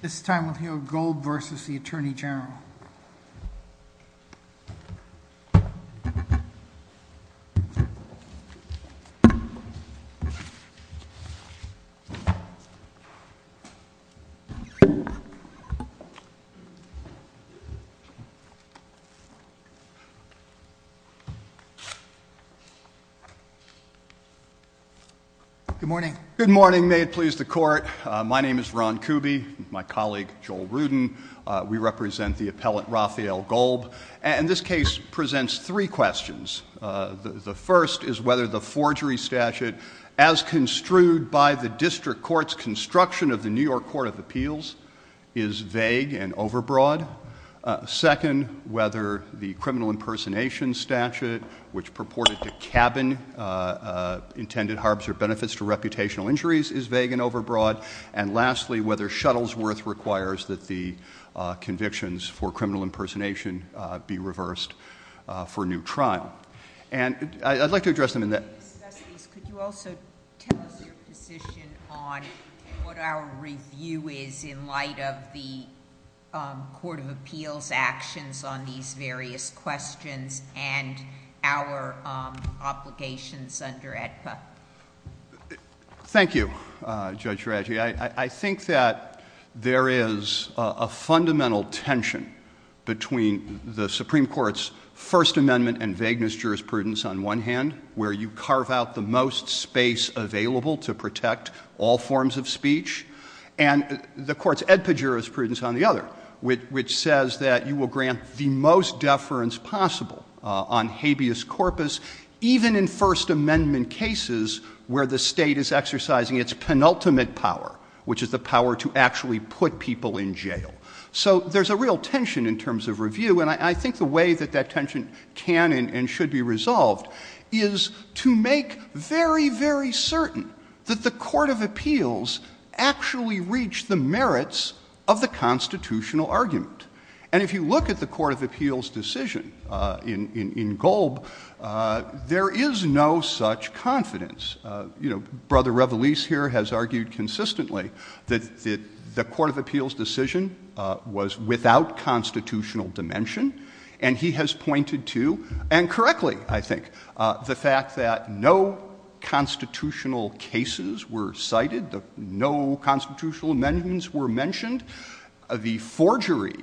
This time we'll hear Gold v. Attorney General. Good morning. Good morning. May it please the court. My name is Ron Kuby. My colleague, Joel Rudin. We represent the appellate Rafael Golb. And this case presents three questions. The first is whether the forgery statute as construed by the district court's construction of the New York Court of Appeals is vague and overbroad. Second, whether the criminal impersonation statute which purported to cabin intended harbors or benefits to reputational injuries is vague and overbroad. And lastly, whether Shuttlesworth requires that the convictions for criminal impersonation be reversed for new trial. And I'd like to address them in that. Could you also tell us your position on what our review is in light of the Court of Appeals actions on these various questions and our obligations under AEDPA? Thank you, Judge Draghi. I think that there is a fundamental tension between the Supreme Court's First Amendment and vagueness jurisprudence on one hand, where you carve out the most space available to protect all forms of speech. And the Court's AEDPA jurisprudence on the other, which says that you will grant the most deference possible on habeas corpus. Even in First Amendment cases where the state is exercising its penultimate power, which is the power to actually put people in jail. So there's a real tension in terms of review. And I think the way that that tension can and should be resolved is to make very, very certain that the Court of Appeals actually reached the merits of the constitutional argument. And if you look at the Court of Appeals decision in Golb, there is no such confidence. You know, Brother Revelese here has argued consistently that the Court of Appeals decision was without constitutional dimension. And he has pointed to, and correctly, I think, the fact that no constitutional cases were cited. No constitutional amendments were mentioned. The forgery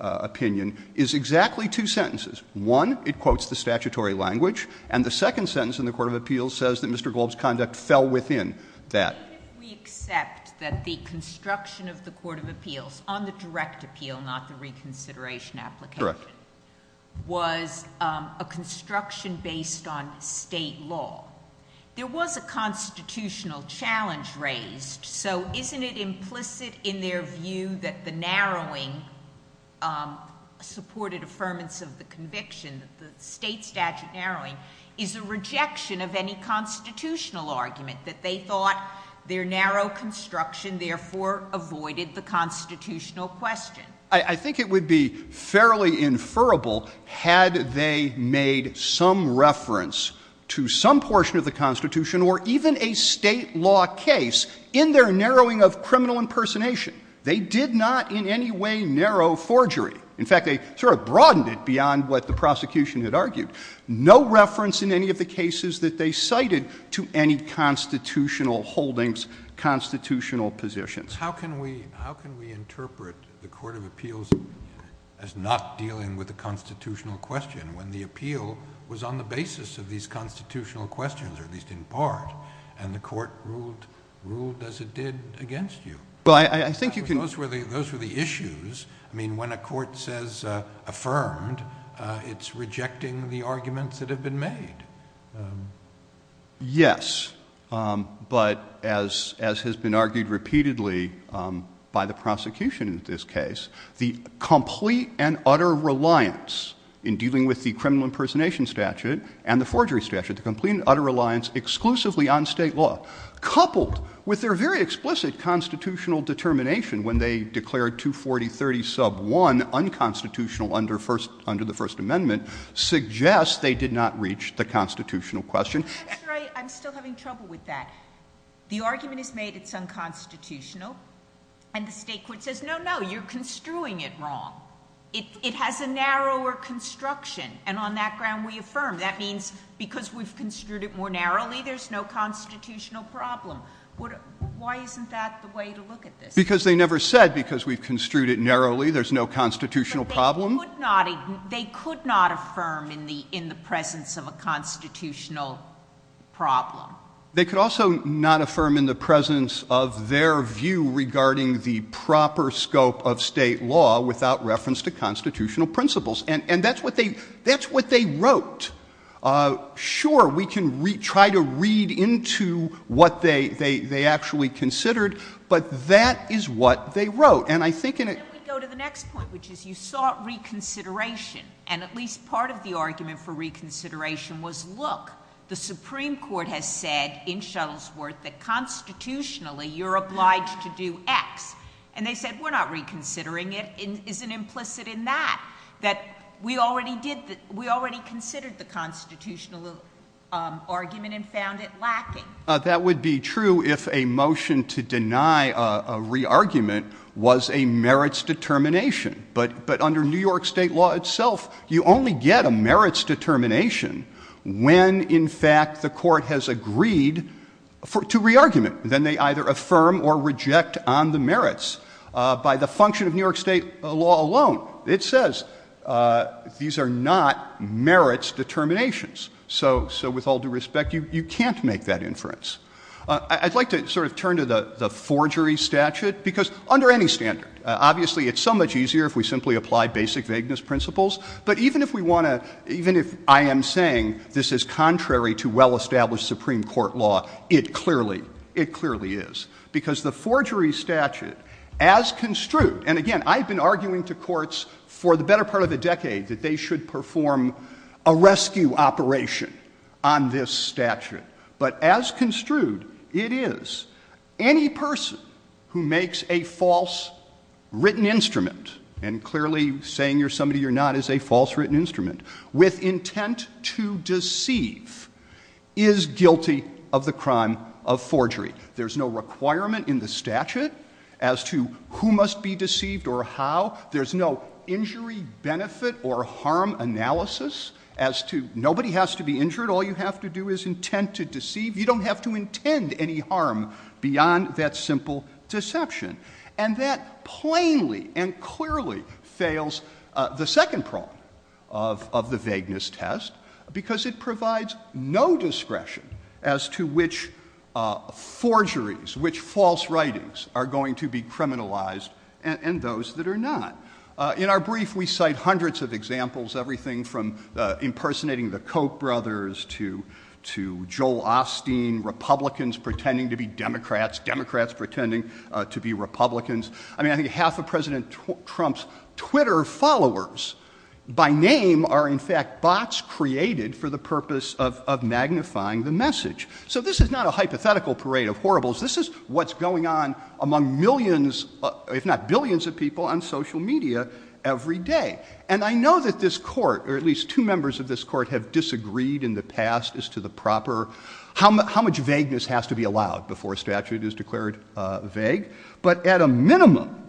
opinion is exactly two sentences. One, it quotes the statutory language. And the second sentence in the Court of Appeals says that Mr. Golb's conduct fell within that. Sotomayor, if we accept that the construction of the Court of Appeals on the direct appeal, not the reconsideration application, was a construction based on State law, there was a constitutional challenge raised. So isn't it implicit in their view that the narrowing supported affirmance of the conviction, that the State statute narrowing is a rejection of any constitutional argument, that they thought their narrow construction therefore avoided the constitutional question? I think it would be fairly inferable had they made some reference to some portion of the Constitution or even a State law case in their narrowing of criminal impersonation. They did not in any way narrow forgery. In fact, they sort of broadened it beyond what the prosecution had argued. No reference in any of the cases that they cited to any constitutional holdings, constitutional positions. How can we interpret the Court of Appeals as not dealing with a constitutional question when the appeal was on the basis of these constitutional questions, or at least in part, and the Court ruled as it did against you? Those were the issues. I mean, when a court says affirmed, it's rejecting the arguments that have been made. Yes. But as has been argued repeatedly by the prosecution in this case, the complete and utter reliance in dealing with the criminal impersonation statute and the forgery statute, the complete and utter reliance exclusively on State law, coupled with their very explicit constitutional determination when they declared 240.30 sub 1 unconstitutional under the First Amendment, suggests they did not reach the constitutional question. I'm still having trouble with that. The argument is made it's unconstitutional, and the State court says, no, no, you're construing it wrong. It has a narrower construction, and on that ground we affirm. That means because we've construed it more narrowly, there's no constitutional problem. Why isn't that the way to look at this? Because they never said, because we've construed it narrowly, there's no constitutional problem. But they could not affirm in the presence of a constitutional problem. They could also not affirm in the presence of their view regarding the proper scope of State law without reference to constitutional principles. And that's what they wrote. Sure, we can try to read into what they actually considered, but that is what they wrote. And I think in a — Then we go to the next point, which is you sought reconsideration. And at least part of the argument for reconsideration was, look, the Supreme Court has said in Shuttlesworth that constitutionally you're obliged to do X. And they said, we're not reconsidering it. It isn't implicit in that, that we already considered the constitutional argument and found it lacking. That would be true if a motion to deny a re-argument was a merits determination. But under New York State law itself, you only get a merits determination when, in fact, the court has agreed to re-argument. Then they either affirm or reject on the merits. By the function of New York State law alone, it says these are not merits determinations. So with all due respect, you can't make that inference. I'd like to sort of turn to the forgery statute, because under any standard, obviously it's so much easier if we simply apply basic vagueness principles. But even if we want to — even if I am saying this is contrary to well-established Supreme Court law, it clearly — it clearly is. Because the forgery statute, as construed — and, again, I've been arguing to courts for the better part of a decade that they should perform a rescue operation on this statute. But as construed, it is any person who makes a false written instrument — and clearly saying you're somebody you're not is a false written instrument — with intent to deceive is guilty of the crime of forgery. There's no requirement in the statute as to who must be deceived or how. There's no injury benefit or harm analysis as to nobody has to be injured. All you have to do is intent to deceive. You don't have to intend any harm beyond that simple deception. And that plainly and clearly fails the second prong of the vagueness test, because it provides no discretion as to which forgeries, which false writings are going to be criminalized and those that are not. In our brief, we cite hundreds of examples, everything from impersonating the Koch brothers to Joel Osteen, Republicans pretending to be Democrats, Democrats pretending to be Republicans. I mean, I think half of President Trump's Twitter followers by name are, in fact, bots created for the purpose of magnifying the message. So this is not a hypothetical parade of horribles. This is what's going on among millions, if not billions, of people on social media every day. And I know that this Court, or at least two members of this Court, have disagreed in the past as to the proper — how much vagueness has to be allowed before a statute is declared vague. But at a minimum,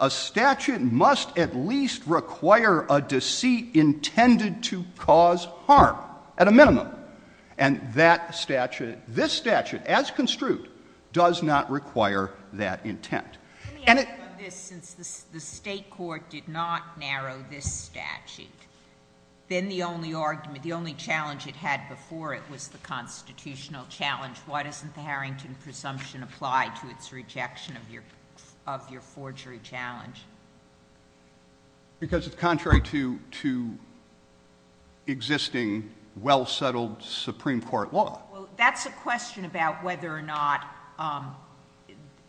a statute must at least require a deceit intended to cause harm, at a minimum. And that statute — this statute, as construed, does not require that intent. And it — Let me ask you about this. Since the State Court did not narrow this statute, then the only argument, the only challenge it had before it was the constitutional challenge, why doesn't the Harrington presumption apply to its rejection of your forgery challenge? Because it's contrary to existing, well-settled Supreme Court law. Well, that's a question about whether or not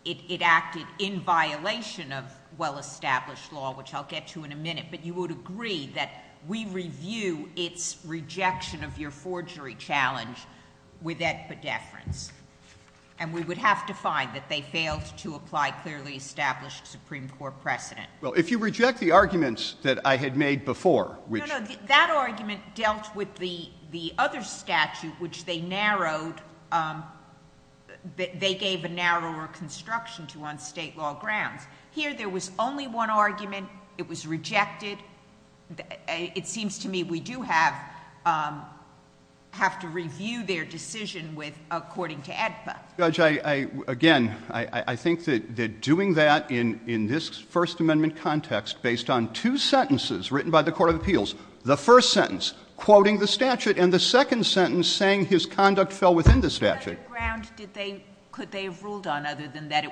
it acted in violation of well-established law, which I'll get to in a minute. But you would agree that we review its rejection of your forgery challenge with epidefrance. And we would have to find that they failed to apply clearly established Supreme Court precedent. Well, if you reject the arguments that I had made before, which — No, no. That argument dealt with the other statute, which they narrowed — they gave a narrower construction to on State law grounds. Here, there was only one argument. It was rejected. It seems to me we do have to review their decision with — according to ADPA. Judge, I — again, I think that doing that in this First Amendment context based on two sentences written by the Court of Appeals, the first sentence quoting the statute and the second sentence saying his conduct fell within the statute — What other ground did they — could they have ruled on other than that it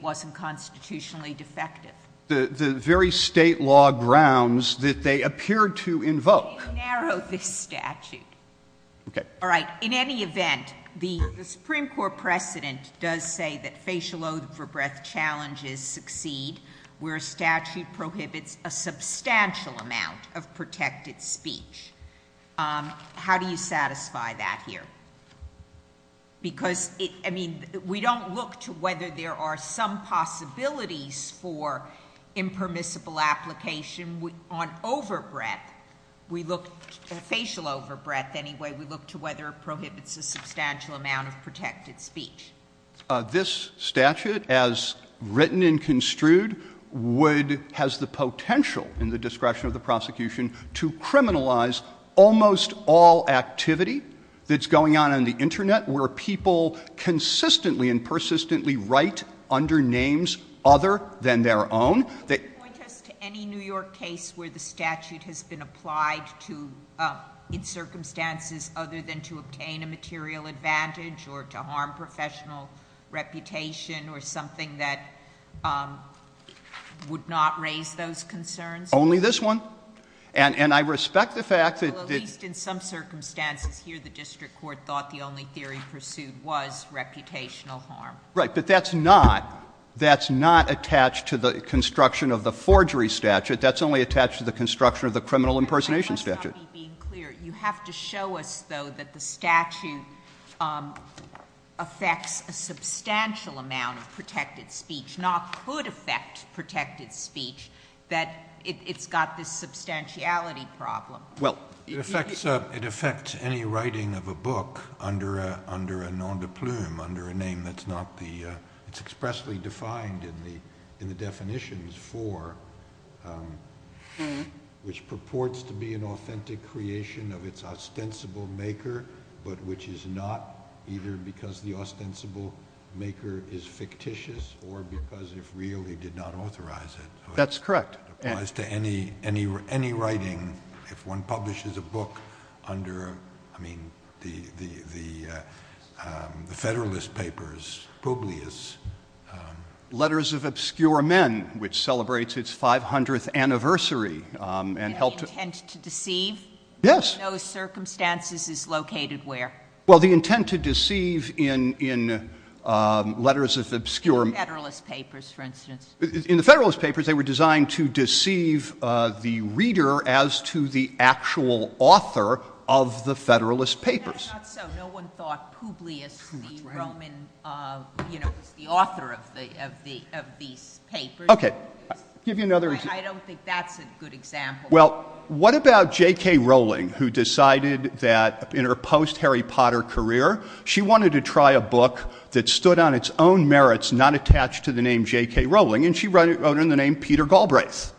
wasn't constitutionally defective? The very State law grounds that they appeared to invoke. They narrowed this statute. Okay. All right. In any event, the Supreme Court precedent does say that facial oath for breath challenges succeed where a statute prohibits a substantial amount of protected speech. How do you satisfy that here? Because it — I mean, we don't look to whether there are some possibilities for impermissible application on over-breath. We look — facial over-breath, anyway. We look to whether it prohibits a substantial amount of protected speech. This statute, as written and construed, would — has the potential in the discretion of the prosecution to criminalize almost all activity that's going on on the Internet where people consistently and persistently write under names other than their own. Could you point us to any New York case where the statute has been applied to — in circumstances other than to obtain a material advantage or to harm professional reputation or something that would not raise those concerns? Only this one? And I respect the fact that — Well, at least in some circumstances here, the district court thought the only theory pursued was reputational harm. Right. But that's not — that's not attached to the construction of the forgery statute. That's only attached to the construction of the criminal impersonation statute. I must not be being clear. You have to show us, though, that the statute affects a substantial amount of protected speech, not could affect protected speech, that it's got this substantiality problem. Well — It affects any writing of a book under a nom de plume, under a name that's not the — it's expressly defined in the definitions for which purports to be an authentic creation of its ostensible maker, but which is not, either because the ostensible maker is fictitious or because, if real, he did not authorize it. That's correct. As to any writing, if one publishes a book under, I mean, the Federalist Papers, Publius — Letters of Obscure Men, which celebrates its 500th anniversary and helped — Any intent to deceive? Yes. In those circumstances is located where? Well, the intent to deceive in Letters of Obscure — In the Federalist Papers, for instance. In the Federalist Papers, they were designed to deceive the reader as to the actual author of the Federalist Papers. No, not so. No one thought Publius, the Roman, you know, was the author of these papers. Okay. I'll give you another example. I don't think that's a good example. Well, what about J.K. Rowling, who decided that, in her post-Harry Potter career, she wanted to try a book that stood on its own merits, not attached to the name J.K. Rowling, and she wrote it under the name Peter Galbraith,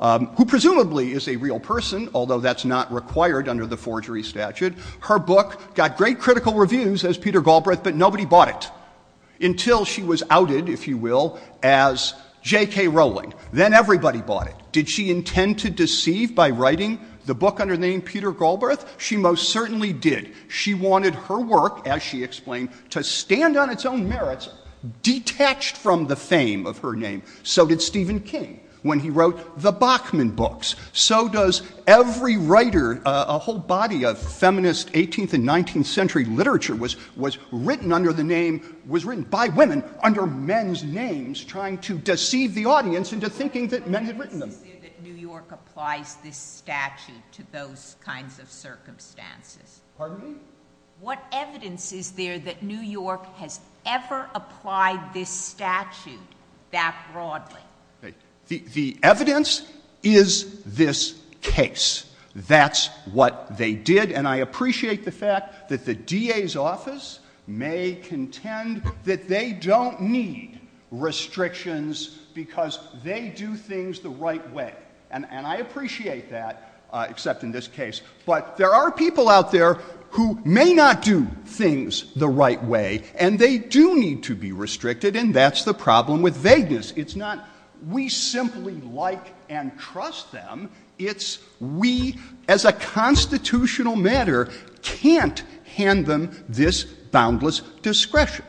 who presumably is a real person, although that's not required under the forgery statute. Her book got great critical reviews as Peter Galbraith, but nobody bought it until she was outed, if you will, as J.K. Rowling. Then everybody bought it. Did she intend to deceive by writing the book under the name Peter Galbraith? She most certainly did. She wanted her work, as she explained, to stand on its own merits, detached from the fame of her name. So did Stephen King when he wrote the Bachman books. So does every writer. A whole body of feminist 18th and 19th century literature was written under the name, What evidence is there that New York applies this statute to those kinds of circumstances? Pardon me? What evidence is there that New York has ever applied this statute that broadly? The evidence is this case. That's what they did. And I appreciate the fact that the DA's office may contend that they don't need restrictions because they do things the right way. And I appreciate that, except in this case. But there are people out there who may not do things the right way, and they do need to be restricted, and that's the problem with vagueness. It's not we simply like and trust them. It's we, as a constitutional matter, can't hand them this boundless discretion.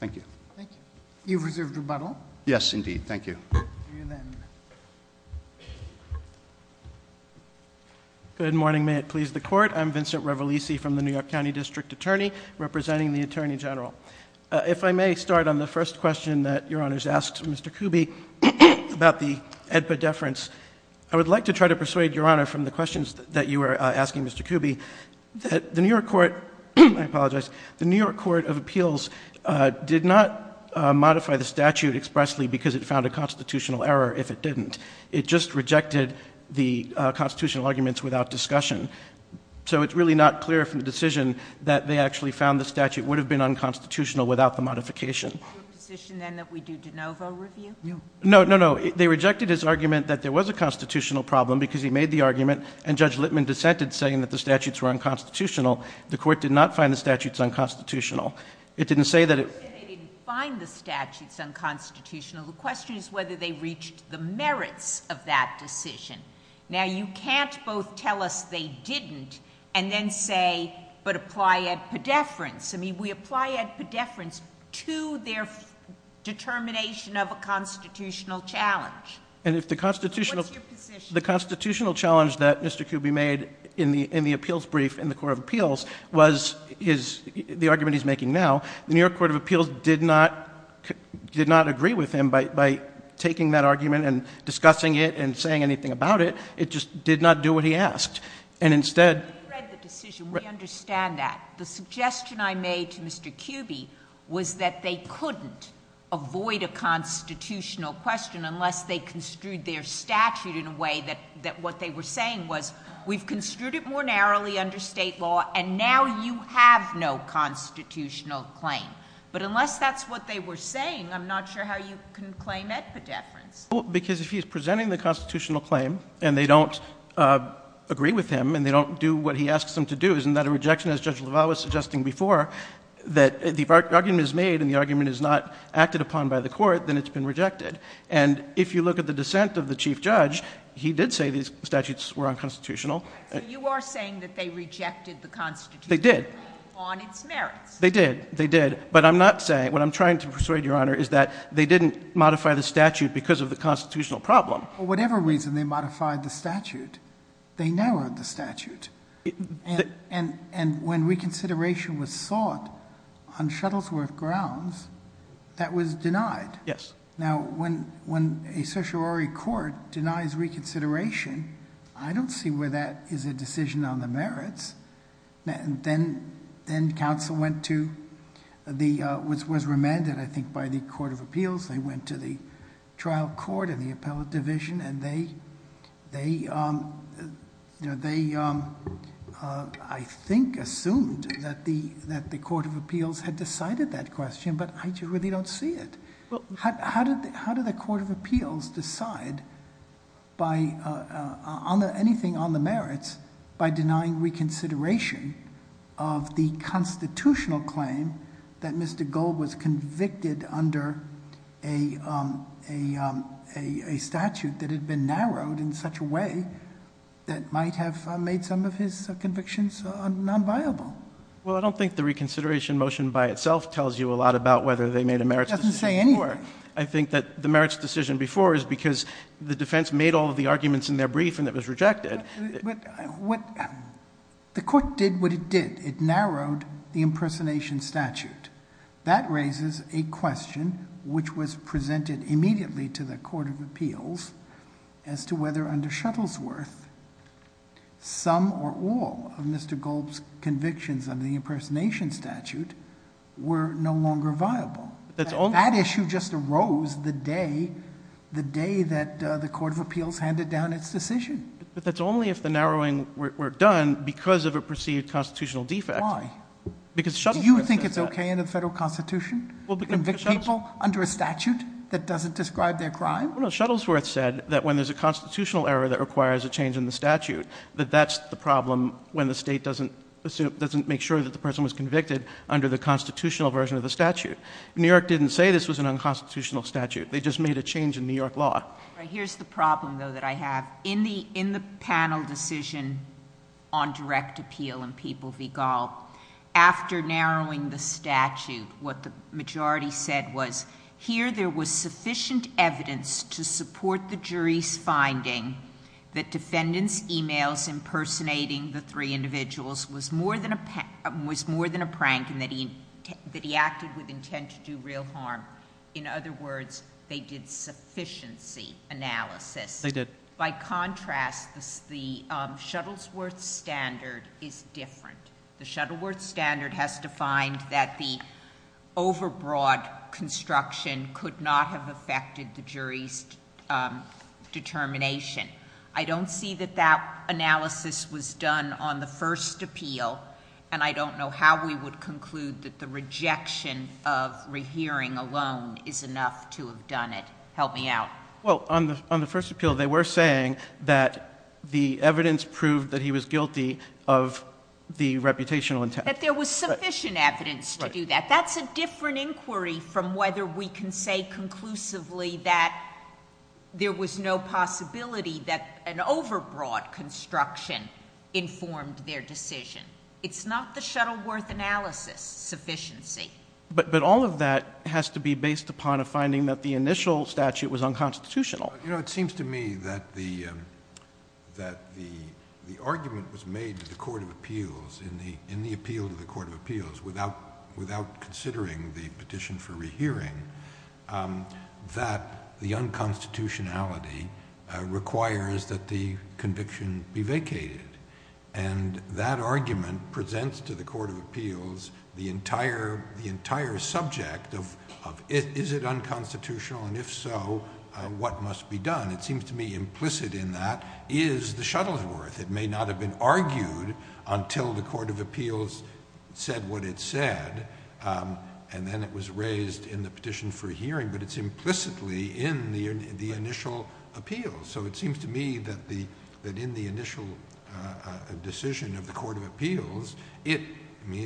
Thank you. Thank you. You've reserved rebuttal. Yes, indeed. Thank you. Good morning. May it please the Court. I'm Vincent Revelisi from the New York County District Attorney, representing the Attorney General. If I may start on the first question that Your Honor's asked Mr. Kuby about the AEDPA deference. I would like to try to persuade Your Honor from the questions that you were asking Mr. Kuby. The New York Court of Appeals did not modify the statute expressly because it found a constitutional error if it didn't. It just rejected the constitutional arguments without discussion. So it's really not clear from the decision that they actually found the statute would have been unconstitutional without the modification. Is it your position then that we do de novo review? No. No, no, no. They rejected his argument that there was a constitutional problem because he made the argument, and Judge Littman dissented saying that the statutes were unconstitutional. The Court did not find the statutes unconstitutional. It didn't say that it— You said they didn't find the statutes unconstitutional. The question is whether they reached the merits of that decision. Now, you can't both tell us they didn't and then say, but apply AEDPA deference. I mean, we apply AEDPA deference to their determination of a constitutional challenge. And if the constitutional— What's your position? The constitutional challenge that Mr. Kuby made in the appeals brief in the Court of Appeals was the argument he's making now. The New York Court of Appeals did not agree with him by taking that argument and discussing it and saying anything about it. It just did not do what he asked. And instead— We read the decision. We understand that. The suggestion I made to Mr. Kuby was that they couldn't avoid a constitutional question unless they construed their statute in a way that what they were saying was we've construed it more narrowly under State law, and now you have no constitutional claim. But unless that's what they were saying, I'm not sure how you can claim AEDPA deference. Well, because if he's presenting the constitutional claim and they don't agree with him and they don't do what he asks them to do, isn't that a rejection? As Judge LaValle was suggesting before, that the argument is made and the argument is not acted upon by the Court, then it's been rejected. And if you look at the dissent of the chief judge, he did say these statutes were unconstitutional. So you are saying that they rejected the constitution— They did. —on its merits. They did. They did. But I'm not saying—what I'm trying to persuade, Your Honor, is that they didn't modify the statute because of the constitutional problem. Whatever reason they modified the statute, they narrowed the statute. And when reconsideration was sought on Shuttlesworth grounds, that was denied. Yes. Now, when a certiorari court denies reconsideration, I don't see where that is a decision on the merits. Then counsel went to—was remanded, I think, by the Court of Appeals. They went to the trial court and the appellate division and they, I think, assumed that the Court of Appeals had decided that question. But I really don't see it. How did the Court of Appeals decide anything on the merits by denying reconsideration of the constitutional claim that Mr. Gold was convicted under a statute that had been narrowed in such a way that might have made some of his convictions nonviable? Well, I don't think the reconsideration motion by itself tells you a lot about whether they made a merits decision. It doesn't say anything. I think that the merits decision before is because the defense made all of the arguments in their brief and it was rejected. But what—the Court did what it did. It narrowed the impersonation statute. That raises a question which was presented immediately to the Court of Appeals as to whether under Shuttlesworth some or all of Mr. Gold's convictions under the impersonation statute were no longer viable. That issue just arose the day that the Court of Appeals handed down its decision. But that's only if the narrowing were done because of a perceived constitutional defect. Because Shuttlesworth said that. Do you think it's okay under the Federal Constitution to convict people under a statute that doesn't describe their crime? No, Shuttlesworth said that when there's a constitutional error that requires a change in the statute, that that's the problem when the State doesn't make sure that the person was convicted under the constitutional version of the statute. New York didn't say this was an unconstitutional statute. They just made a change in New York law. Here's the problem, though, that I have. In the panel decision on direct appeal in People v. Gall, after narrowing the statute, what the majority said was, here there was sufficient evidence to support the jury's finding that defendants' emails impersonating the three individuals was more than a prank and that he acted with intent to do real harm. In other words, they did sufficiency analysis. They did. By contrast, the Shuttlesworth standard is different. The Shuttlesworth standard has defined that the overbroad construction could not have affected the jury's determination. I don't see that that analysis was done on the first appeal, and I don't know how we would conclude that the rejection of rehearing alone is enough to have done it. Help me out. Well, on the first appeal, they were saying that the evidence proved that he was guilty of the reputational intent. That there was sufficient evidence to do that. That's a different inquiry from whether we can say conclusively that there was no possibility that an overbroad construction informed their decision. It's not the Shuttlesworth analysis sufficiency. But all of that has to be based upon a finding that the initial statute was unconstitutional. It seems to me that the argument was made to the Court of Appeals, in the appeal to the Court of Appeals, without considering the petition for rehearing, that the unconstitutionality requires that the conviction be vacated. And that argument presents to the Court of Appeals the entire subject of, is it unconstitutional, and if so, what must be done? It seems to me implicit in that is the Shuttlesworth. It may not have been argued until the Court of Appeals said what it said, and then it was raised in the petition for hearing, but it's implicitly in the initial appeal. So it seems to me that in the initial decision of the Court of Appeals, it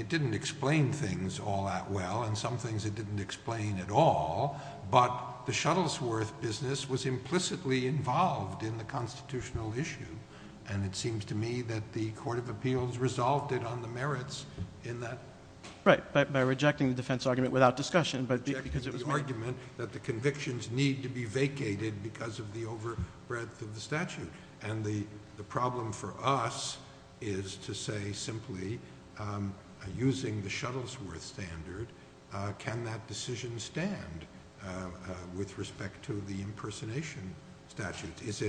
didn't explain things all that well, and some things it didn't explain at all, but the Shuttlesworth business was implicitly involved in the constitutional issue. And it seems to me that the Court of Appeals resolved it on the merits in that. Right, by rejecting the defense argument without discussion. Rejecting the argument that the convictions need to be vacated because of the overbreadth of the statute. And the problem for us is to say simply, using the Shuttlesworth standard, can that decision stand with respect to the impersonation statute? Is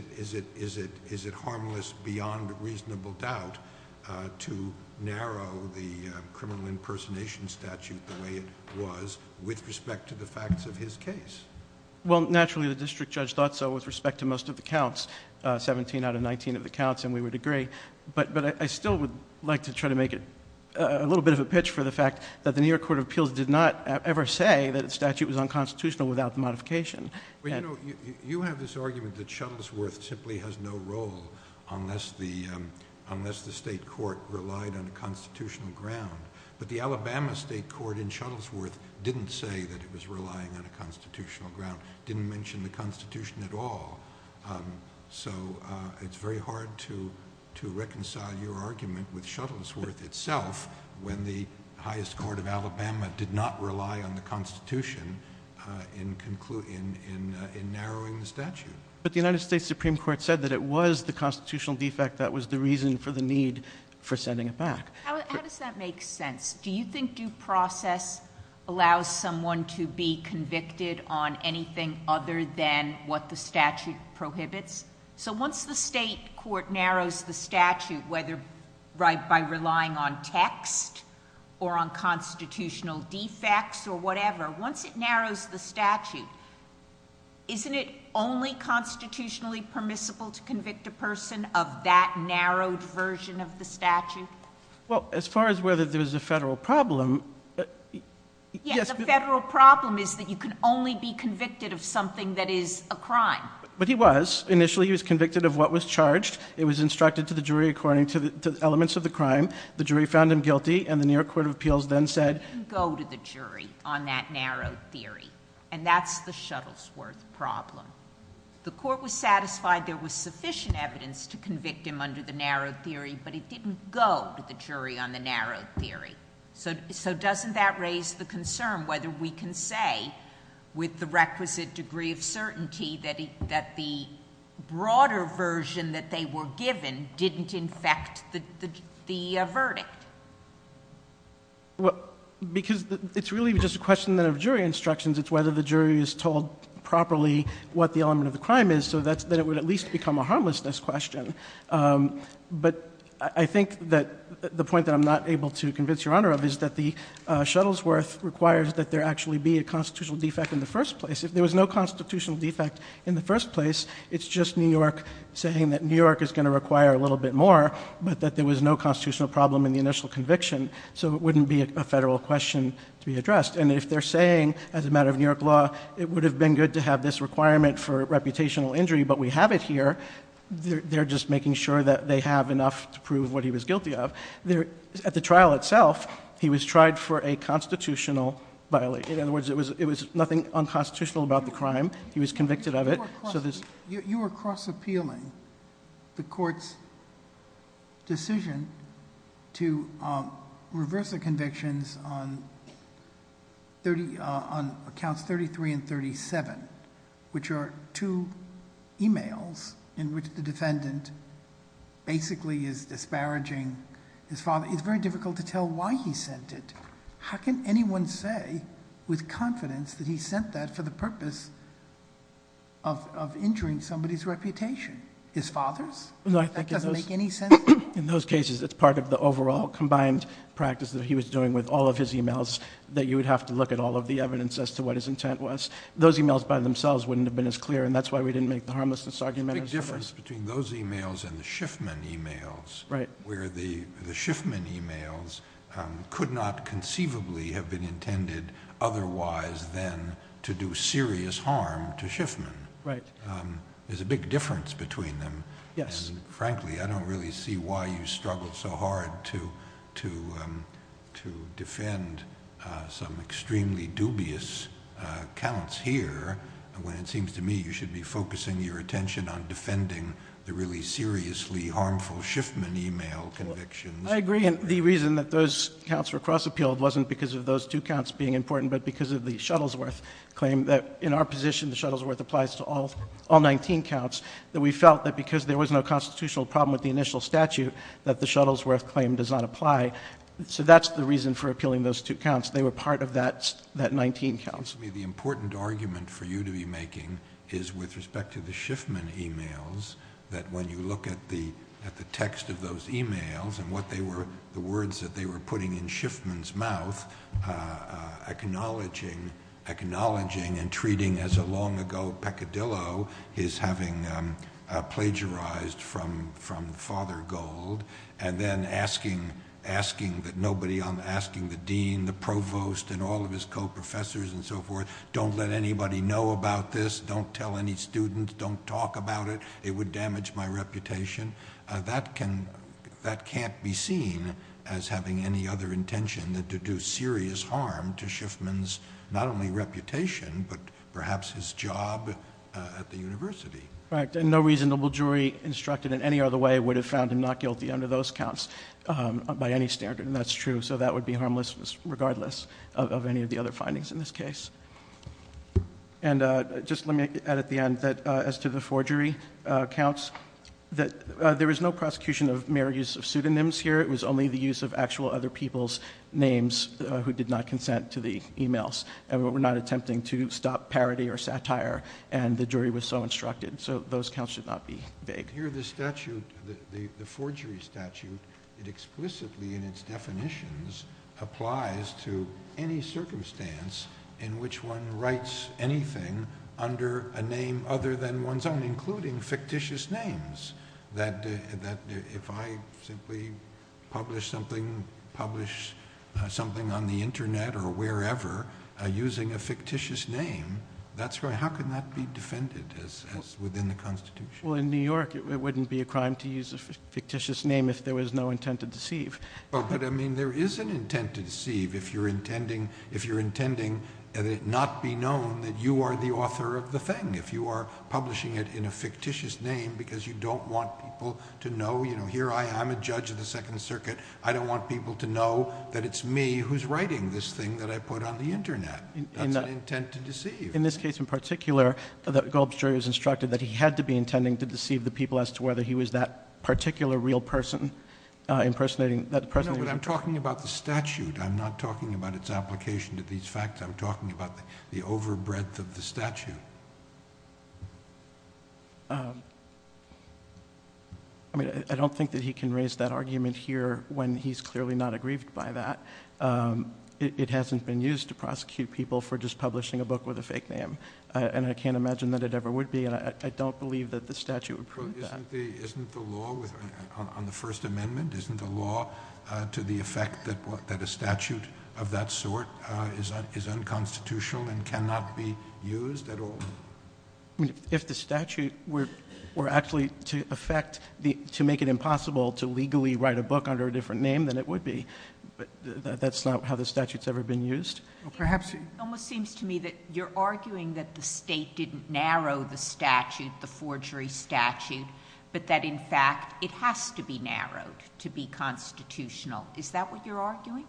it harmless beyond reasonable doubt to narrow the criminal impersonation statute the way it was with respect to the facts of his case? Well, naturally, the district judge thought so with respect to most of the counts, 17 out of 19 of the counts, and we would agree. But I still would like to try to make a little bit of a pitch for the fact that the New York Court of Appeals did not ever say that the statute was unconstitutional without the modification. Well, you know, you have this argument that Shuttlesworth simply has no role unless the state court relied on a constitutional ground. But the Alabama state court in Shuttlesworth didn't say that it was relying on a constitutional ground, didn't mention the Constitution at all. So it's very hard to reconcile your argument with Shuttlesworth itself when the highest court of Alabama did not rely on the Constitution in narrowing the statute. But the United States Supreme Court said that it was the constitutional defect that was the reason for the need for sending it back. How does that make sense? Do you think due process allows someone to be convicted on anything other than what the statute prohibits? So once the state court narrows the statute, whether by relying on text or on constitutional defects or whatever, once it narrows the statute, isn't it only constitutionally permissible to convict a person of that narrowed version of the statute? Well, as far as whether there's a federal problem... Yes, the federal problem is that you can only be convicted of something that is a crime. But he was. Initially he was convicted of what was charged. It was instructed to the jury according to the elements of the crime. The jury found him guilty and the New York Court of Appeals then said... And that's the Shuttlesworth problem. The court was satisfied there was sufficient evidence to convict him under the narrowed theory, but it didn't go to the jury on the narrowed theory. So doesn't that raise the concern whether we can say, with the requisite degree of certainty, that the broader version that they were given didn't infect the verdict? Well, because it's really just a question of jury instructions. It's whether the jury is told properly what the element of the crime is, so that it would at least become a harmlessness question. But I think that the point that I'm not able to convince Your Honor of is that the Shuttlesworth requires that there actually be a constitutional defect in the first place. If there was no constitutional defect in the first place, it's just New York saying that New York is going to require a little bit more, but that there was no constitutional problem in the initial conviction, so it wouldn't be a federal question to be addressed. And if they're saying, as a matter of New York law, it would have been good to have this requirement for reputational injury, but we have it here, they're just making sure that they have enough to prove what he was guilty of. At the trial itself, he was tried for a constitutional violation. In other words, it was nothing unconstitutional about the crime. He was convicted of it. You are cross-appealing the court's decision to reverse the convictions on accounts 33 and 37, which are two emails in which the defendant basically is disparaging his father. It's very difficult to tell why he sent it. How can anyone say with confidence that he sent that for the purpose of injuring somebody's reputation? His father's? That doesn't make any sense. In those cases, it's part of the overall combined practice that he was doing with all of his emails, that you would have to look at all of the evidence as to what his intent was. Those emails by themselves wouldn't have been as clear, and that's why we didn't make the harmlessness argument. There's a big difference between those emails and the Schiffman emails, where the Schiffman emails could not conceivably have been intended otherwise than to do serious harm to Schiffman. There's a big difference between them. Frankly, I don't really see why you struggle so hard to defend some extremely dubious accounts here, when it seems to me you should be focusing your attention on defending the really seriously harmful Schiffman email convictions. I agree. The reason that those accounts were cross-appealed wasn't because of those two counts being important, but because of the Shuttlesworth claim that in our position the Shuttlesworth applies to all 19 counts, that we felt that because there was no constitutional problem with the initial statute, that the Shuttlesworth claim does not apply. So that's the reason for appealing those two counts. They were part of that 19 counts. The important argument for you to be making is with respect to the Schiffman emails, that when you look at the text of those emails and the words that they were putting in Schiffman's mouth, acknowledging and treating as a long-ago peccadillo his having plagiarized from Father Gold, and then asking that nobody, asking the dean, the provost, and all of his co-professors and so forth, don't let anybody know about this, don't tell any students, don't talk about it, it would damage my reputation. That can't be seen as having any other intention than to do serious harm to Schiffman's not only reputation, And no reasonable jury instructed in any other way would have found him not guilty under those counts by any standard. And that's true. So that would be harmless regardless of any of the other findings in this case. And just let me add at the end that as to the four jury counts, that there was no prosecution of mere use of pseudonyms here. It was only the use of actual other people's names who did not consent to the emails. And we're not attempting to stop parody or satire. And the jury was so instructed. So those counts should not be vague. Here the statute, the four jury statute, it explicitly in its definitions applies to any circumstance in which one writes anything under a name other than one's own, including fictitious names. That if I simply publish something on the internet or wherever using a fictitious name, how can that be defended as within the Constitution? Well, in New York it wouldn't be a crime to use a fictitious name if there was no intent to deceive. But I mean there is an intent to deceive if you're intending not be known that you are the author of the thing. If you are publishing it in a fictitious name because you don't want people to know, you know, here I am a judge of the Second Circuit. I don't want people to know that it's me who's writing this thing that I put on the internet. That's an intent to deceive. In this case in particular, that Goldberg's jury was instructed that he had to be intending to deceive the people as to whether he was that particular real person impersonating that person. No, but I'm talking about the statute. I'm not talking about its application to these facts. I'm talking about the overbreadth of the statute. I mean I don't think that he can raise that argument here when he's clearly not aggrieved by that. It hasn't been used to prosecute people for just publishing a book with a fake name. And I can't imagine that it ever would be, and I don't believe that the statute would prove that. Isn't the law on the First Amendment, isn't the law to the effect that a statute of that sort is unconstitutional and cannot be used at all? If the statute were actually to affect, to make it impossible to legally write a book under a different name, then it would be, but that's not how the statute's ever been used. It almost seems to me that you're arguing that the state didn't narrow the statute, the forgery statute, but that in fact it has to be narrowed to be constitutional. Is that what you're arguing?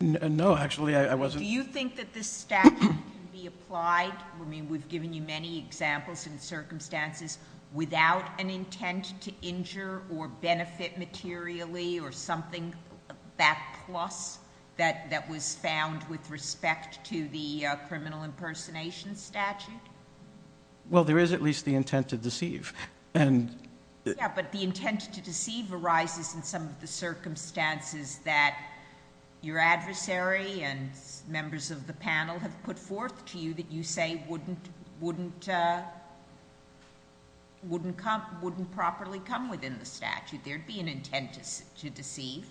No, actually I wasn't. Do you think that this statute can be applied? I mean we've given you many examples and circumstances without an intent to injure or benefit materially or something that plus that was found with respect to the criminal impersonation statute. Well, there is at least the intent to deceive. Yeah, but the intent to deceive arises in some of the circumstances that your adversary and members of the panel have put forth to you that you say wouldn't properly come within the statute. There would be an intent to deceive.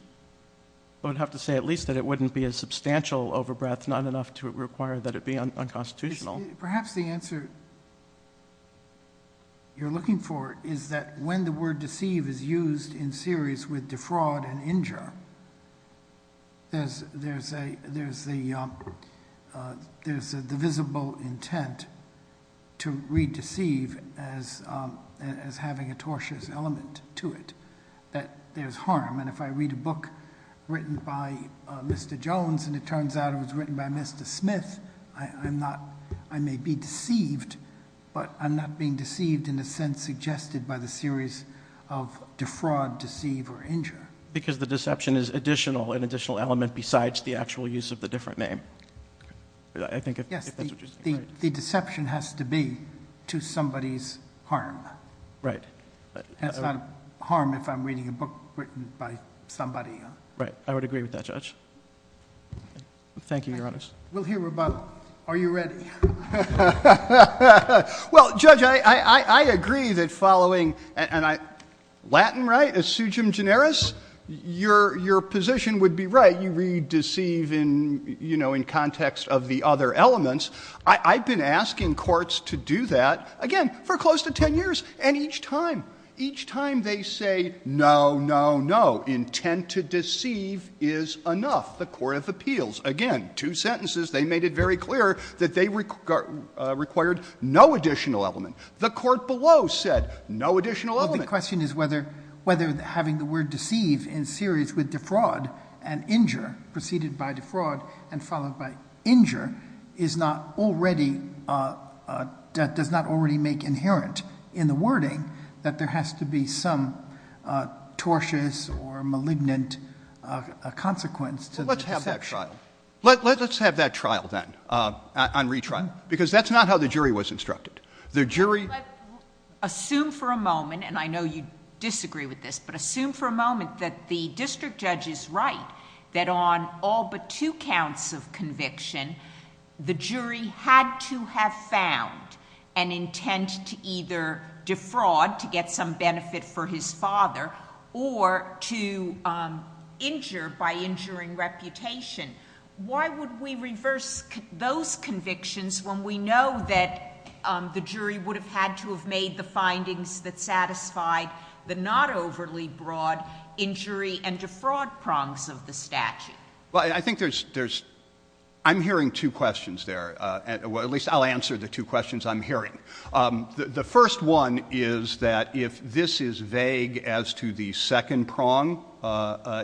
I would have to say at least that it wouldn't be a substantial overbreath, not enough to require that it be unconstitutional. Perhaps the answer you're looking for is that when the word deceive is used in series with defraud and injure, there's the visible intent to read deceive as having a tortious element to it, that there's harm. And if I read a book written by Mr. Jones and it turns out it was written by Mr. Smith, I may be deceived, but I'm not being deceived in the sense suggested by the series of defraud, deceive, or injure. Because the deception is additional, an additional element besides the actual use of the different name. Yes, the deception has to be to somebody's harm. Right. That's not harm if I'm reading a book written by somebody. Right, I would agree with that, Judge. Thank you, Your Honors. We'll hear about it. Are you ready? Well, Judge, I agree that following, and I, Latin, right? Es sugem generis? Your position would be right. You read deceive in, you know, in context of the other elements. I've been asking courts to do that, again, for close to 10 years. And each time, each time they say no, no, no, intent to deceive is enough, the court of appeals. Again, two sentences. They made it very clear that they required no additional element. The court below said no additional element. Well, the question is whether having the word deceive in series with defraud and injure, preceded by defraud and followed by injure, is not already, does not already make inherent in the wording that there has to be some tortious or malignant consequence to the deception. Well, let's have that trial. Let's have that trial, then, on retrial, because that's not how the jury was instructed. The jury— Let's assume for a moment, and I know you disagree with this, but assume for a moment that the district judge is right that on all but two counts of conviction, the jury had to have found an intent to either defraud to get some benefit for his father or to injure by injuring reputation. Why would we reverse those convictions when we know that the jury would have had to have made the findings that satisfied the not overly broad injury and defraud prongs of the statute? Well, I think there's—I'm hearing two questions there. The first one is that if this is vague as to the second prong,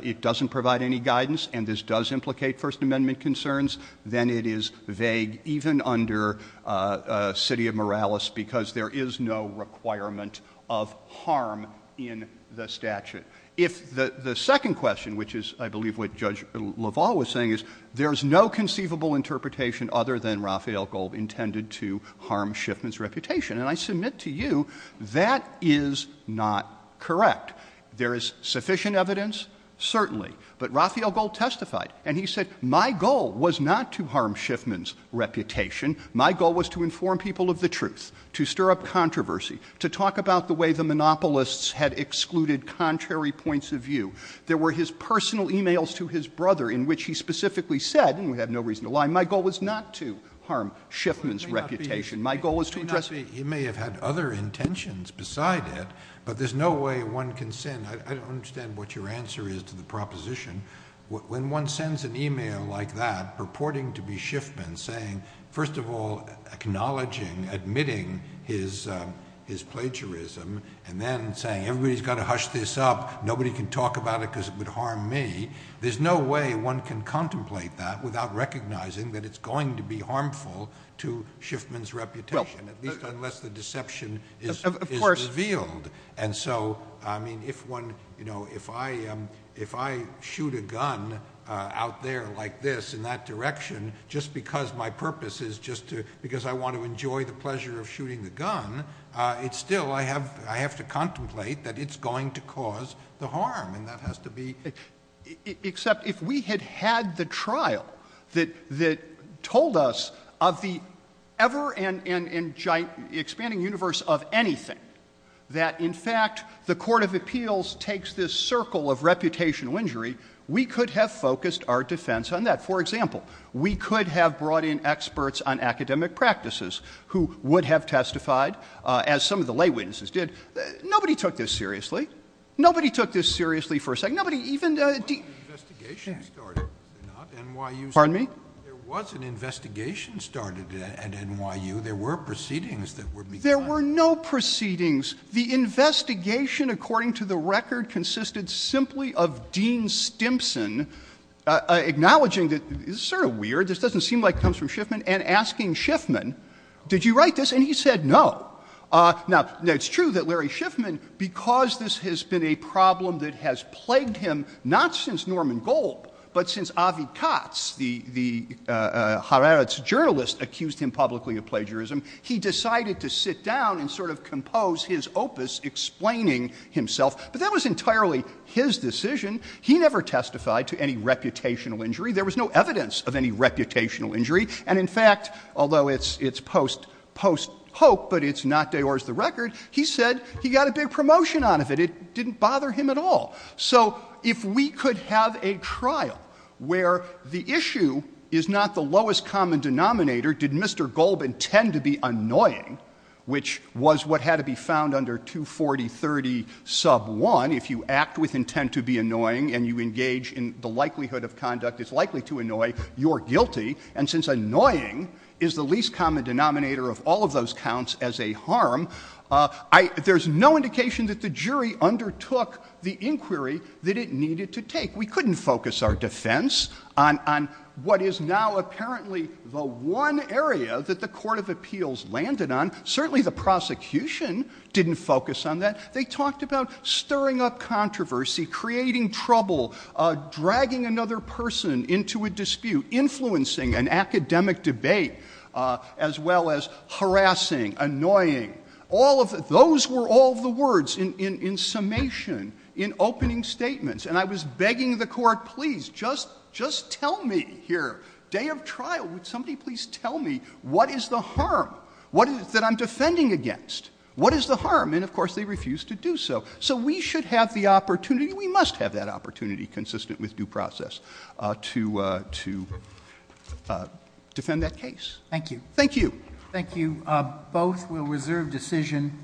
it doesn't provide any guidance, and this does implicate First Amendment concerns, then it is vague even under citia moralis because there is no requirement of harm in the statute. If the second question, which is, I believe, what Judge LaValle was saying, there is no conceivable interpretation other than Raphael Gold intended to harm Schiffman's reputation, and I submit to you that is not correct. There is sufficient evidence, certainly, but Raphael Gold testified, and he said, my goal was not to harm Schiffman's reputation. My goal was to inform people of the truth, to stir up controversy, to talk about the way the monopolists had excluded contrary points of view. There were his personal e-mails to his brother in which he specifically said, and we have no reason to lie, my goal was not to harm Schiffman's reputation. My goal was to address— You may have had other intentions beside it, but there's no way one can send — I don't understand what your answer is to the proposition. When one sends an e-mail like that purporting to be Schiffman saying, first of all, acknowledging, admitting his plagiarism, and then saying everybody's got to hush this up, nobody can talk about it because it would harm me, there's no way one can contemplate that without recognizing that it's going to be harmful to Schiffman's reputation, at least unless the deception is revealed. And so, I mean, if I shoot a gun out there like this in that direction just because my purpose is just to — because I want to enjoy the pleasure of shooting the gun, it's still — I have to contemplate that it's going to cause the harm. And that has to be — Except if we had had the trial that told us of the ever-expanding universe of anything that in fact the court of appeals takes this circle of reputational injury, we could have focused our defense on that. For example, we could have brought in experts on academic practices who would have testified as some of the lay witnesses did. Nobody took this seriously. Nobody took this seriously for a second. Nobody even — There was an investigation started at NYU. There were proceedings that were — There were no proceedings. The investigation, according to the record, consisted simply of Dean Stimson acknowledging that this is sort of weird, this doesn't seem like it comes from Schiffman, and asking Schiffman, did you write this? And he said no. Now, it's true that Larry Schiffman, because this has been a problem that has plagued him not since Norman Gold, but since Avi Katz, the Hararetz journalist, accused him publicly of plagiarism, he decided to sit down and sort of compose his opus explaining himself. But that was entirely his decision. He never testified to any reputational injury. There was no evidence of any reputational injury. And in fact, although it's post-hope, but it's not de ors the record, he said he got a big promotion out of it. It didn't bother him at all. So if we could have a trial where the issue is not the lowest common denominator, did Mr. Gold intend to be annoying, which was what had to be found under 24030 sub 1, if you act with intent to be annoying and you engage in the likelihood of conduct that's likely to annoy, you're guilty. And since annoying is the least common denominator of all of those counts as a harm, there's no indication that the jury undertook the inquiry that it needed to take. We couldn't focus our defense on what is now apparently the one area that the Court of Appeals landed on. Certainly the prosecution didn't focus on that. They talked about stirring up controversy, creating trouble, dragging another person into a dispute, influencing an academic debate, as well as harassing, annoying. All of those were all the words in summation, in opening statements. And I was begging the Court, please, just tell me here. Day of trial, would somebody please tell me what is the harm that I'm defending against? What is the harm? And, of course, they refused to do so. So we should have the opportunity. We must have that opportunity, consistent with due process, to defend that case. Thank you. Thank you. Thank you. Both will reserve decision.